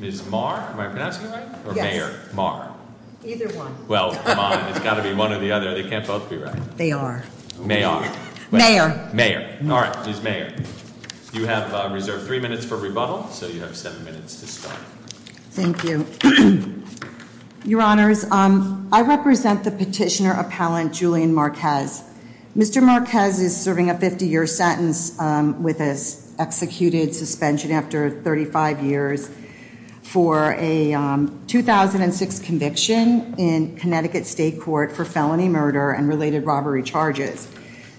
Ms. Mar? Am I pronouncing it right? Or Mayor? Mar? Either one. Well, come on, it's got to be one or the other. They can't both be right. They are. Mayor. Mayor. All right, Ms. Mayor. You have reserved three minutes for rebuttal, so you have seven minutes to start. Thank you. Your Honors, I represent the petitioner appellant Julian Marquez. Mr. Marquez is serving a 50-year sentence with an executed suspension after 35 years for a 2006 conviction in Connecticut State Court for felony murder and related robbery charges.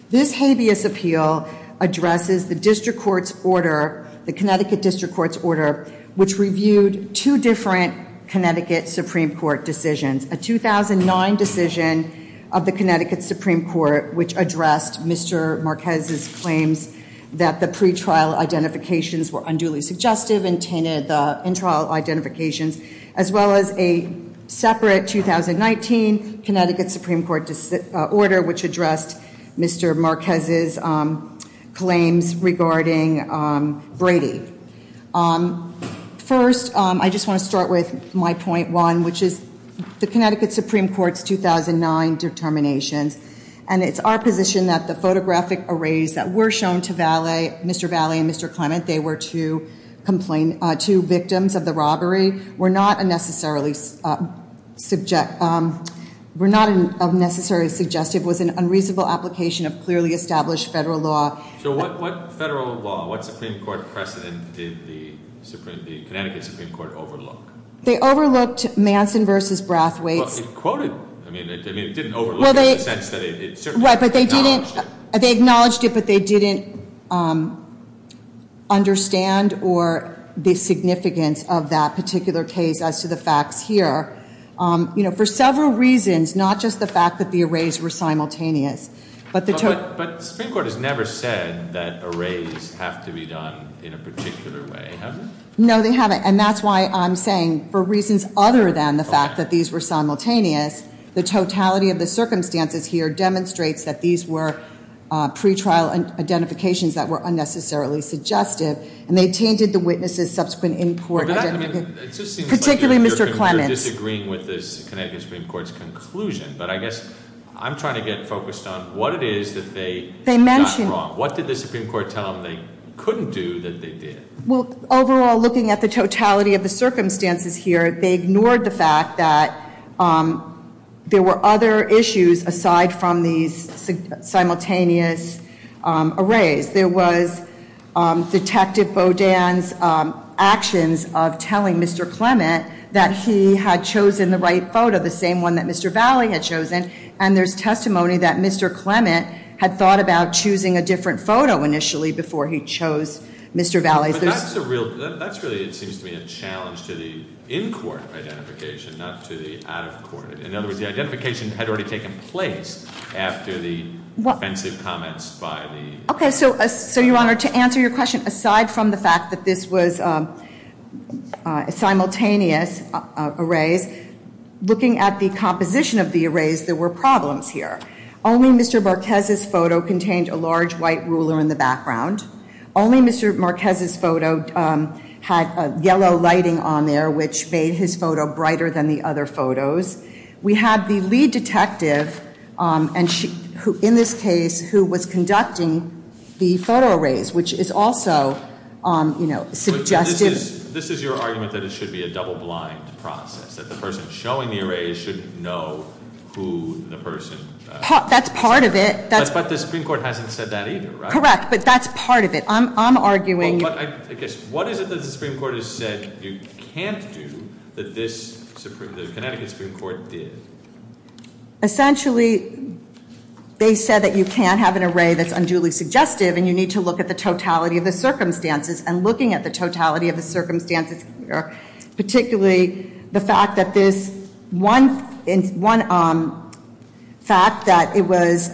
This habeas appeal addresses the district court's order, the Connecticut district court's order, which reviewed two different Connecticut Supreme Court decisions. A 2009 decision of the Connecticut Supreme Court, which addressed Mr. Marquez's claims that the pretrial identifications were unduly suggestive and tainted the in-trial identifications, as well as a separate 2019 Connecticut Supreme Court order, which addressed Mr. Marquez's claims regarding Brady. First, I just want to start with my point one, which is the Connecticut Supreme Court's 2009 determinations. And it's our position that the photographic arrays that were shown to Mr. Valley and Mr. Clement, they were two victims of the robbery, were not unnecessarily suggestive, was an unreasonable application of clearly established federal law. So what federal law, what Supreme Court precedent did the Connecticut Supreme Court overlook? They overlooked Manson v. Brathwaite's- Well, it quoted- I mean, it didn't overlook it in the sense that it certainly acknowledged it. Right, but they didn't- they acknowledged it, but they didn't understand or the significance of that particular case as to the facts here. You know, for several reasons, not just the fact that the arrays were simultaneous, but the- But Supreme Court has never said that arrays have to be done in a particular way, have they? No, they haven't. And that's why I'm saying, for reasons other than the fact that these were simultaneous, the totality of the circumstances here demonstrates that these were pretrial identifications that were unnecessarily suggestive. And they tainted the witnesses' subsequent in-court identification- But that, I mean, it just seems like you're- Particularly Mr. Clement's- They mentioned- What did the Supreme Court tell them they couldn't do that they did? Well, overall, looking at the totality of the circumstances here, they ignored the fact that there were other issues aside from these simultaneous arrays. There was Detective Bodan's actions of telling Mr. Clement that he had chosen the right photo, the same one that Mr. Valley had chosen. And there's testimony that Mr. Clement had thought about choosing a different photo initially before he chose Mr. Valley's. But that's a real- That's really, it seems to me, a challenge to the in-court identification, not to the out-of-court. In other words, the identification had already taken place after the offensive comments by the- Okay, so, Your Honor, to answer your question, aside from the fact that this was simultaneous arrays, looking at the composition of the arrays, there were problems here. Only Mr. Marquez's photo contained a large white ruler in the background. Only Mr. Marquez's photo had yellow lighting on there, which made his photo brighter than the other photos. We had the lead detective, in this case, who was conducting the photo arrays, which is also suggestive- This is your argument that it should be a double-blind process, that the person showing the arrays should know who the person- That's part of it. But the Supreme Court hasn't said that either, right? Correct, but that's part of it. I'm arguing- I guess, what is it that the Supreme Court has said you can't do that the Connecticut Supreme Court did? Essentially, they said that you can't have an array that's unduly suggestive, and you need to look at the totality of the circumstances. And looking at the totality of the circumstances, particularly the fact that this- One fact that it was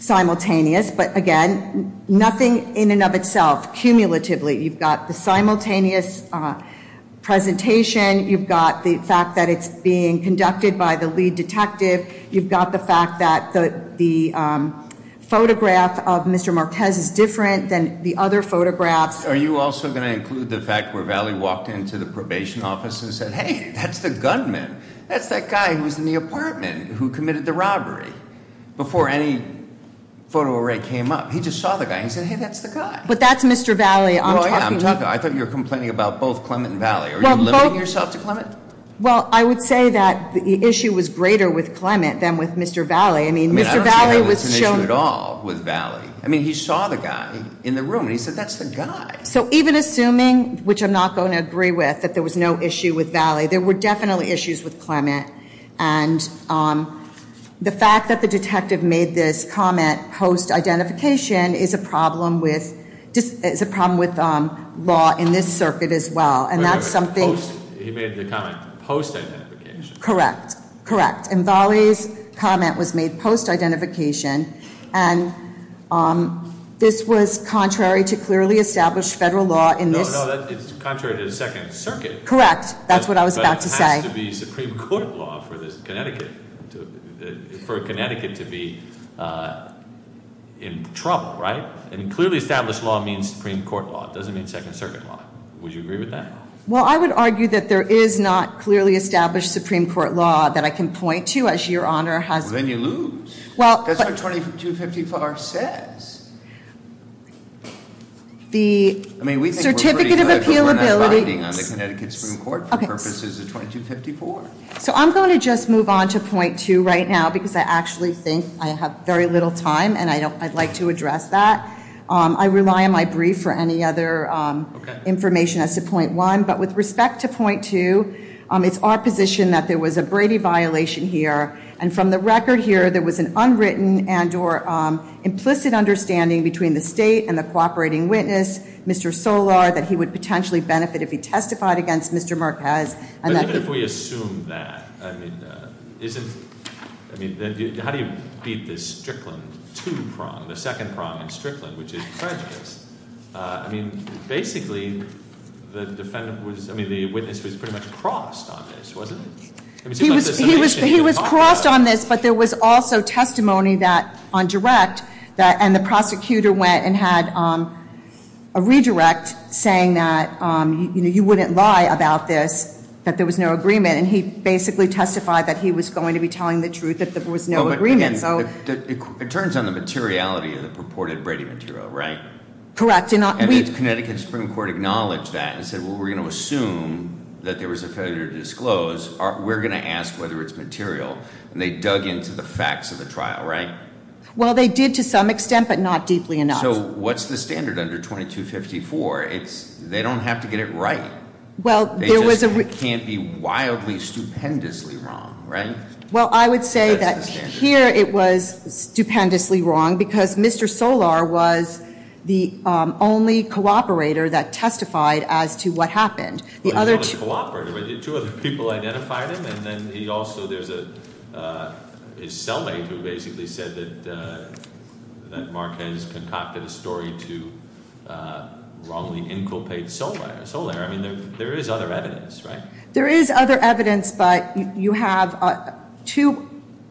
simultaneous, but again, nothing in and of itself, cumulatively. You've got the simultaneous presentation. You've got the fact that it's being conducted by the lead detective. You've got the fact that the photograph of Mr. Marquez is different than the other photographs. Are you also going to include the fact where Valley walked into the probation office and said, hey, that's the gunman. That's that guy who was in the apartment who committed the robbery, before any photo array came up. He just saw the guy. He said, hey, that's the guy. But that's Mr. Valley. I'm talking- I thought you were complaining about both Clement and Valley. Are you limiting yourself to Clement? Well, I would say that the issue was greater with Clement than with Mr. Valley. I mean, Mr. Valley was shown- I mean, I don't see how that's an issue at all with Valley. I mean, he saw the guy in the room, and he said, that's the guy. So even assuming, which I'm not going to agree with, that there was no issue with Valley, there were definitely issues with Clement. And the fact that the detective made this comment post-identification is a problem with law in this circuit as well. And that's something- He made the comment post-identification. Correct. Correct. And Valley's comment was made post-identification. And this was contrary to clearly established federal law in this- No, no. It's contrary to the Second Circuit. Correct. That's what I was about to say. But it has to be Supreme Court law for Connecticut to be in trouble, right? And clearly established law means Supreme Court law. It doesn't mean Second Circuit law. Would you agree with that? Well, I would argue that there is not clearly established Supreme Court law that I can point to as your Honor has- Well, then you lose. Well- That's what 2254 says. I mean, we think we're pretty good, but we're not binding on the Connecticut Supreme Court for purposes of 2254. So I'm going to just move on to point two right now because I actually think I have very little time, and I'd like to address that. I rely on my brief for any other information as to point one. But with respect to point two, it's our position that there was a Brady violation here. And from the record here, there was an unwritten and or implicit understanding between the state and the cooperating witness, Mr. Solar, that he would potentially benefit if he testified against Mr. Marquez. But even if we assume that, I mean, how do you beat this Strickland two prong, the second prong in Strickland, which is prejudice? I mean, basically, the witness was pretty much crossed on this, wasn't he? He was crossed on this, but there was also testimony on direct. And the prosecutor went and had a redirect saying that you wouldn't lie about this, that there was no agreement. And he basically testified that he was going to be telling the truth, that there was no agreement. So- It turns on the materiality of the purported Brady material, right? Correct. And the Connecticut Supreme Court acknowledged that and said, well, we're going to assume that there was a failure to disclose. We're going to ask whether it's material. And they dug into the facts of the trial, right? Well, they did to some extent, but not deeply enough. So what's the standard under 2254? They don't have to get it right. Well, there was a- They just can't be wildly, stupendously wrong, right? Well, I would say that here it was stupendously wrong because Mr. Solar was the only cooperator that testified as to what happened. The other two- His cellmate who basically said that Marquez concocted a story to wrongly inculpate Solar. I mean, there is other evidence, right? There is other evidence, but you have two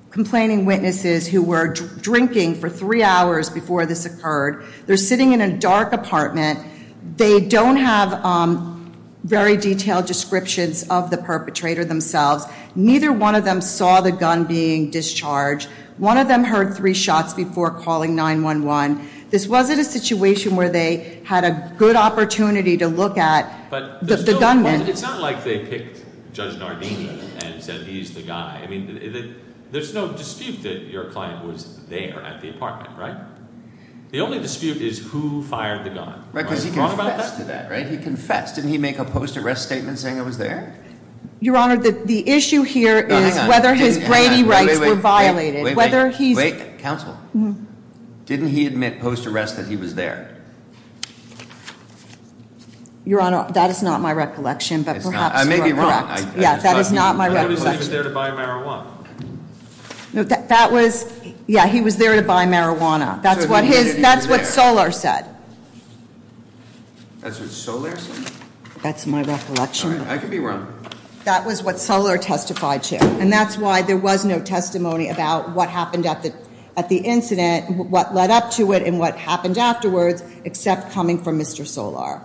complaining witnesses who were drinking for three hours before this occurred. They're sitting in a dark apartment. They don't have very detailed descriptions of the perpetrator themselves. Neither one of them saw the gun being discharged. One of them heard three shots before calling 911. This wasn't a situation where they had a good opportunity to look at the gunman. But it's not like they picked Judge Nardini and said he's the guy. I mean, there's no dispute that your client was there at the apartment, right? The only dispute is who fired the gun. Right, because he confessed to that, right? He confessed. Didn't he make a post-arrest statement saying it was there? Your Honor, the issue here is whether his Brady rights were violated. Wait, wait, wait. Wait, counsel. Didn't he admit post-arrest that he was there? Your Honor, that is not my recollection, but perhaps you are correct. I may be wrong. Yeah, that is not my recollection. Nobody was there to buy marijuana. That was, yeah, he was there to buy marijuana. That's what his, that's what Solar said. That's what Solar said? That's my recollection. I could be wrong. That was what Solar testified to. And that's why there was no testimony about what happened at the incident, what led up to it and what happened afterwards, except coming from Mr. Solar.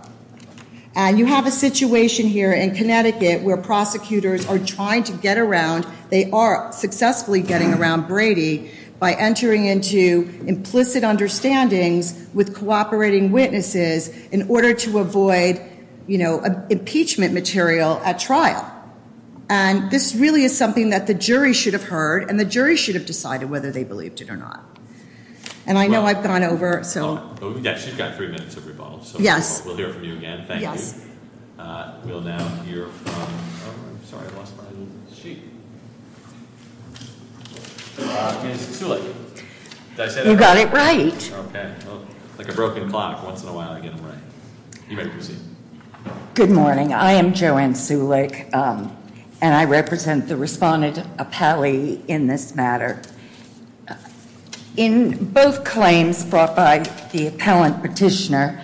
And you have a situation here in Connecticut where prosecutors are trying to get around, they are successfully getting around Brady by entering into implicit understandings with cooperating witnesses in order to avoid, you know, impeachment material at trial. And this really is something that the jury should have heard and the jury should have decided whether they believed it or not. And I know I've gone over, so. Yeah, she's got three minutes of rebuttal. Yes. We'll hear from you again. Thank you. Yes. We'll now hear from, I'm sorry, I lost my little sheet. Ms. Zulek. You got it right. Okay. Like a broken clock, once in a while I get them right. You may proceed. Good morning. I am Joanne Zulek, and I represent the respondent appellee in this matter. In both claims brought by the appellant petitioner,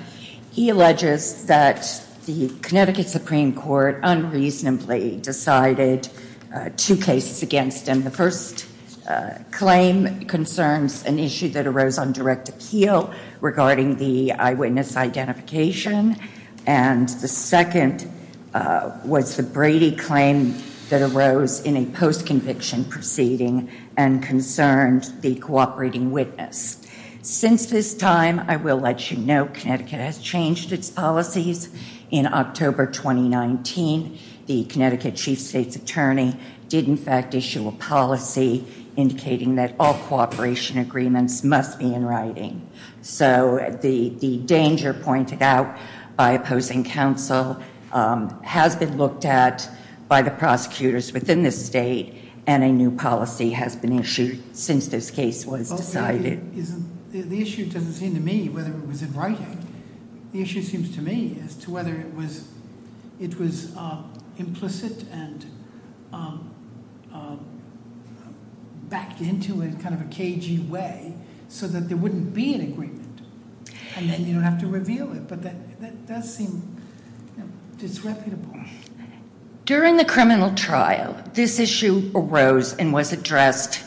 he alleges that the Connecticut Supreme Court unreasonably decided two cases against him. And the first claim concerns an issue that arose on direct appeal regarding the eyewitness identification. And the second was the Brady claim that arose in a post-conviction proceeding and concerned the cooperating witness. Since this time, I will let you know, Connecticut has changed its policies. In October 2019, the Connecticut Chief State's Attorney did in fact issue a policy indicating that all cooperation agreements must be in writing. So the danger pointed out by opposing counsel has been looked at by the prosecutors within this state, and a new policy has been issued since this case was decided. The issue doesn't seem to me whether it was in writing. The issue seems to me as to whether it was implicit and backed into in kind of a cagey way so that there wouldn't be an agreement and then you don't have to reveal it. But that does seem disreputable. During the criminal trial, this issue arose and was addressed,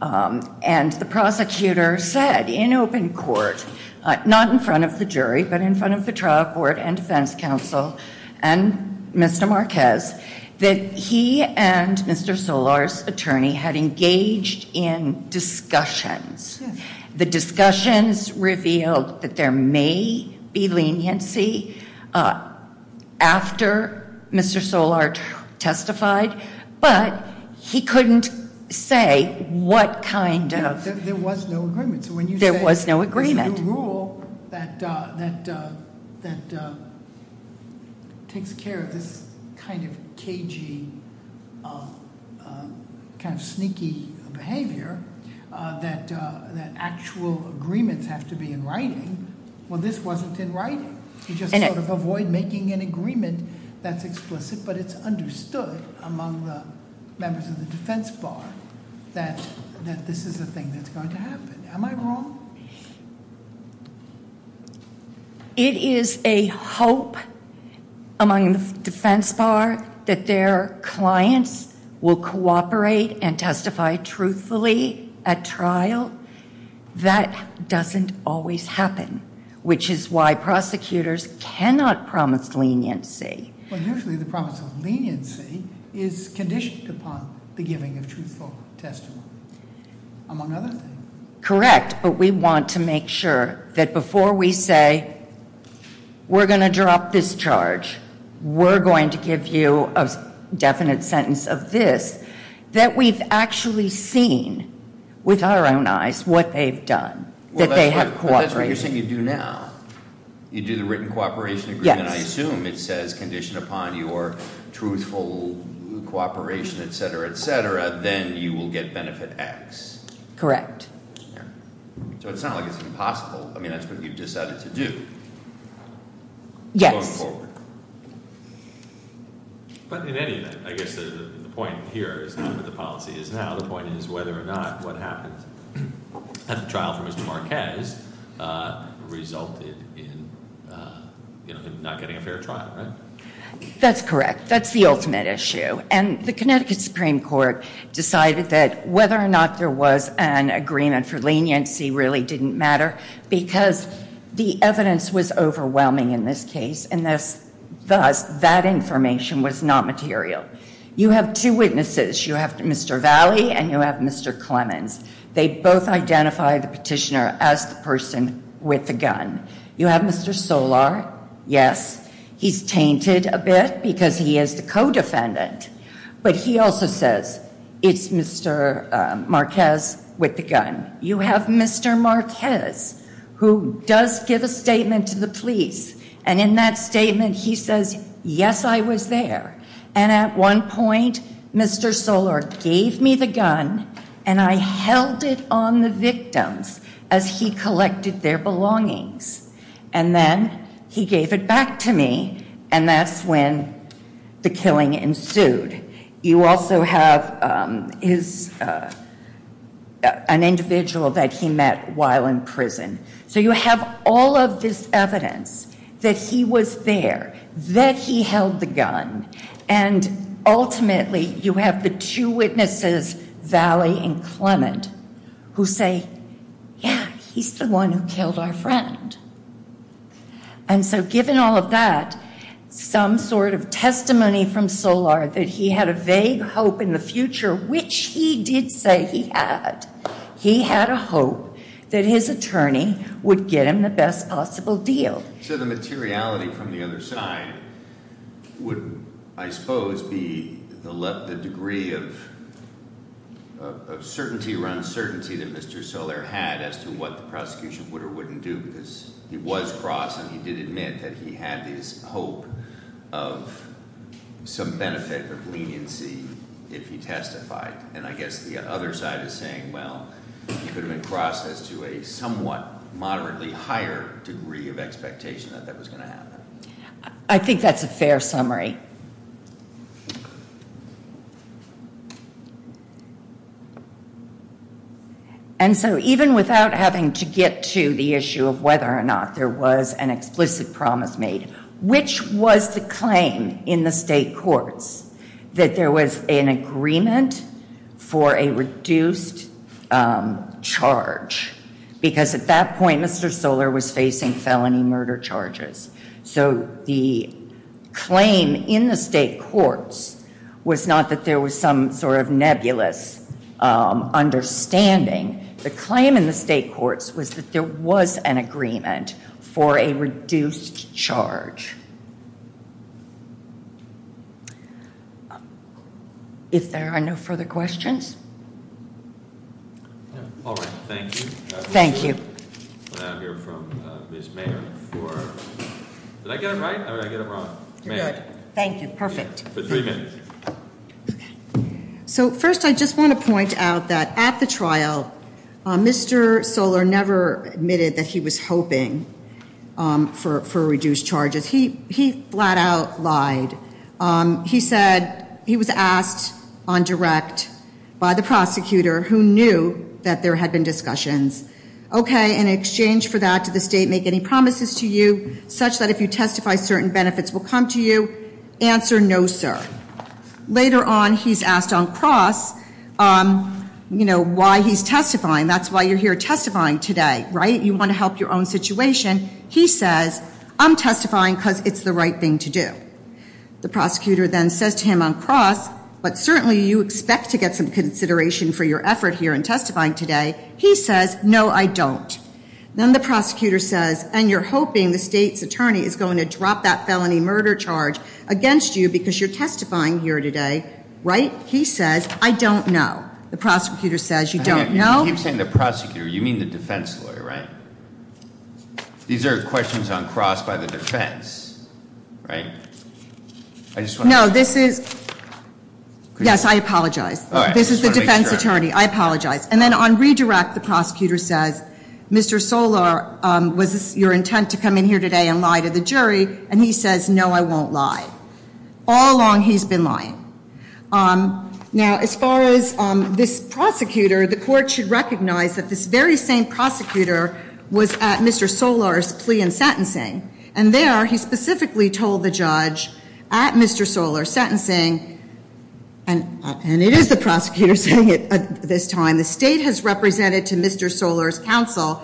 and the prosecutor said in open court, not in front of the jury, but in front of the trial court and defense counsel and Mr. Marquez, that he and Mr. Solart's attorney had engaged in discussions. The discussions revealed that there may be leniency after Mr. Solart testified, but he couldn't say what kind of- There was no agreement, so when you say- There was no agreement. There's a new rule that takes care of this kind of cagey, kind of sneaky behavior that actual agreements have to be in writing. Well, this wasn't in writing. You just sort of avoid making an agreement that's explicit, but it's understood among the members of the defense bar that this is the thing that's going to happen. Am I wrong? It is a hope among the defense bar that their clients will cooperate and testify truthfully at trial. Well, that doesn't always happen, which is why prosecutors cannot promise leniency. Well, usually the promise of leniency is conditioned upon the giving of truthful testimony, among other things. Correct, but we want to make sure that before we say, we're going to drop this charge, we're going to give you a definite sentence of this, that we've actually seen with our own eyes what they've done, that they have cooperated. But that's what you're saying you do now. You do the written cooperation agreement, I assume. Yes. It says conditioned upon your truthful cooperation, et cetera, et cetera, then you will get benefit X. Correct. So it's not like it's impossible. I mean, that's what you've decided to do going forward. Yes. But in any event, I guess the point here is not with the policy, it's now the point is whether or not what happens at the trial for Mr. Marquez resulted in him not getting a fair trial, right? That's correct. That's the ultimate issue. And the Connecticut Supreme Court decided that whether or not there was an agreement for leniency really didn't matter because the evidence was overwhelming in this case, and thus that information was not material. You have two witnesses. You have Mr. Valley and you have Mr. Clemens. They both identify the petitioner as the person with the gun. You have Mr. Solar. Yes. He's tainted a bit because he is the co-defendant. But he also says it's Mr. Marquez with the gun. You have Mr. Marquez, who does give a statement to the police, and in that statement he says, yes, I was there. And at one point, Mr. Solar gave me the gun, and I held it on the victims as he collected their belongings. And then he gave it back to me, and that's when the killing ensued. You also have an individual that he met while in prison. So you have all of this evidence that he was there, that he held the gun, and ultimately you have the two witnesses, Valley and Clement, who say, yeah, he's the one who killed our friend. And so given all of that, some sort of testimony from Solar that he had a vague hope in the future, which he did say he had, he had a hope that his attorney would get him the best possible deal. So the materiality from the other side would, I suppose, be the degree of certainty or uncertainty that Mr. Solar had as to what the prosecution would or wouldn't do because he was cross and he did admit that he had this hope of some benefit of leniency if he testified. And I guess the other side is saying, well, he could have been crossed as to a somewhat moderately higher degree of expectation that that was going to happen. I think that's a fair summary. And so even without having to get to the issue of whether or not there was an explicit promise made, which was the claim in the state courts that there was an agreement for a reduced charge? Because at that point, Mr. Solar was facing felony murder charges. So the claim in the state courts was not that there was some sort of nebulous understanding. The claim in the state courts was that there was an agreement for a reduced charge. If there are no further questions? All right. Thank you. Thank you. I hear from Ms. Mayer for, did I get it right or did I get it wrong? You're good. Thank you. Perfect. For three minutes. So first I just want to point out that at the trial, Mr. Solar never admitted that he was hoping for reduced charges. He flat out lied. He said he was asked on direct by the prosecutor who knew that there had been discussions. Okay, in exchange for that, did the state make any promises to you such that if you testify, certain benefits will come to you? Answer, no, sir. Later on, he's asked on cross, you know, why he's testifying. That's why you're here testifying today, right? You want to help your own situation. He says, I'm testifying because it's the right thing to do. The prosecutor then says to him on cross, but certainly you expect to get some consideration for your effort here in testifying today. He says, no, I don't. Then the prosecutor says, and you're hoping the state's attorney is going to drop that felony murder charge against you because you're testifying here today, right? He says, I don't know. The prosecutor says, you don't know? You keep saying the prosecutor. You mean the defense lawyer, right? These are questions on cross by the defense, right? No, this is, yes, I apologize. This is the defense attorney. I apologize. And then on redirect, the prosecutor says, Mr. Solor, was this your intent to come in here today and lie to the jury? And he says, no, I won't lie. All along, he's been lying. Now, as far as this prosecutor, the court should recognize that this very same prosecutor was at Mr. Solor's plea and sentencing. And there, he specifically told the judge at Mr. Solor's sentencing, and it is the prosecutor saying it this time, the state has represented to Mr. Solor's counsel.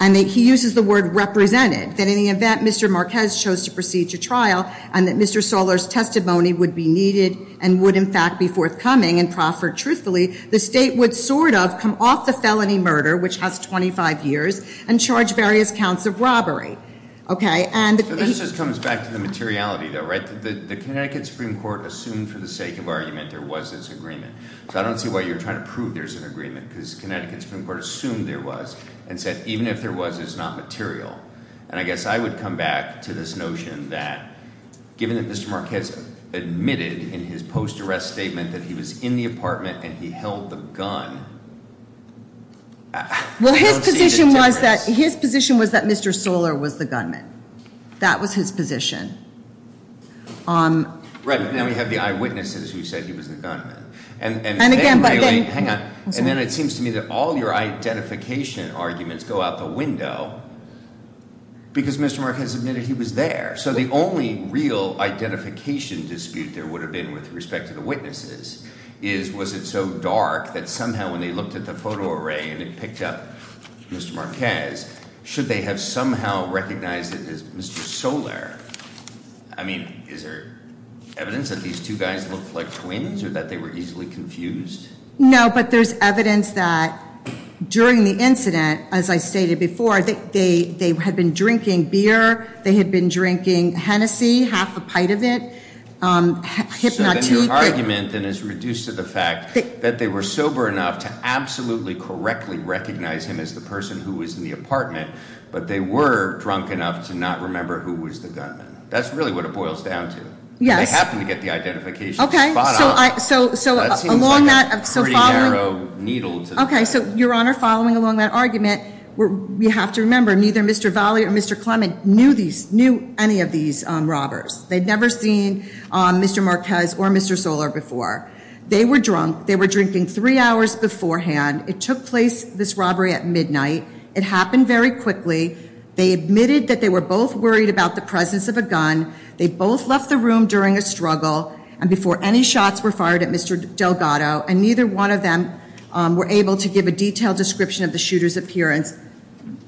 And he uses the word represented. That in the event Mr. Marquez chose to proceed to trial and that Mr. Solor's testimony would be needed and would, in fact, be forthcoming and proffered truthfully, the state would sort of come off the felony murder, which has 25 years, and charge various counts of robbery. So this just comes back to the materiality, though, right? The Connecticut Supreme Court assumed for the sake of argument there was this agreement. So I don't see why you're trying to prove there's an agreement, because Connecticut Supreme Court assumed there was and said even if there was, it's not material. And I guess I would come back to this notion that given that Mr. Marquez admitted in his post-arrest statement that he was in the apartment and he held the gun, I don't see the difference. His position was that Mr. Solor was the gunman. That was his position. Right, but now we have the eyewitnesses who said he was the gunman. And again, but then- Hang on. And then it seems to me that all your identification arguments go out the window because Mr. Marquez admitted he was there. So the only real identification dispute there would have been with respect to the witnesses is, was it so dark that somehow when they looked at the photo array and it picked up Mr. Marquez, should they have somehow recognized it as Mr. Solor? I mean, is there evidence that these two guys looked like twins or that they were easily confused? No, but there's evidence that during the incident, as I stated before, they had been drinking beer. They had been drinking Hennessy, half a pint of it. Hypnotique. So then your argument then is reduced to the fact that they were sober enough to absolutely correctly recognize him as the person who was in the apartment, but they were drunk enough to not remember who was the gunman. That's really what it boils down to. Yes. And they happened to get the identification spot on. Okay, so along that- That seems like a pretty narrow needle to the needle. Okay, so Your Honor, following along that argument, we have to remember neither Mr. Valle or Mr. Clement knew any of these robbers. They'd never seen Mr. Marquez or Mr. Solor before. They were drunk. They were drinking three hours beforehand. It took place, this robbery, at midnight. It happened very quickly. They admitted that they were both worried about the presence of a gun. They both left the room during a struggle and before any shots were fired at Mr. Delgado, and neither one of them were able to give a detailed description of the shooter's appearance.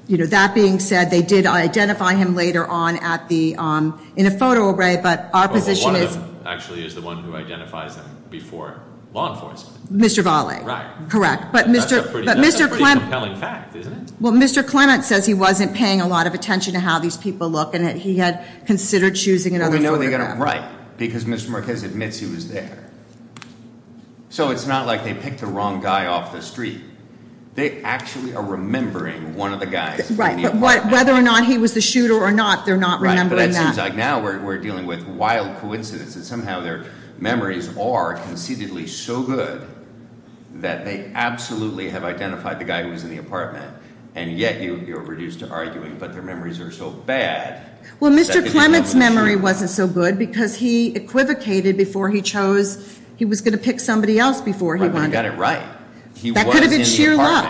That being said, they did identify him later on in a photo array, but our position is- Well, one of them actually is the one who identifies them before law enforcement. Mr. Valle. Right. Correct. That's a pretty compelling fact, isn't it? Well, Mr. Clement says he wasn't paying a lot of attention to how these people look and that he had considered choosing another photograph. Well, we know they got it right because Mr. Marquez admits he was there. So it's not like they picked the wrong guy off the street. They actually are remembering one of the guys in the apartment. Right, but whether or not he was the shooter or not, they're not remembering that. Right, but it seems like now we're dealing with wild coincidence that somehow their memories are conceitedly so good that they absolutely have identified the guy who was in the apartment, and yet you're reduced to arguing, but their memories are so bad- Well, Mr. Clement's memory wasn't so good because he equivocated before he chose- He was going to pick somebody else before he won. But he got it right. That could have been sheer luck.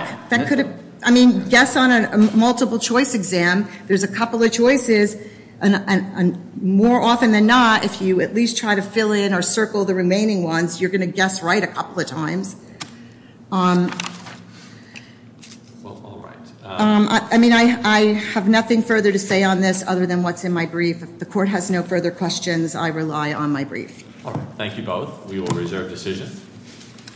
I mean, guess on a multiple choice exam. There's a couple of choices, and more often than not, if you at least try to fill in or circle the remaining ones, you're going to guess right a couple of times. Well, all right. I mean, I have nothing further to say on this other than what's in my brief. If the court has no further questions, I rely on my brief. All right. Thank you both. We will reserve decision.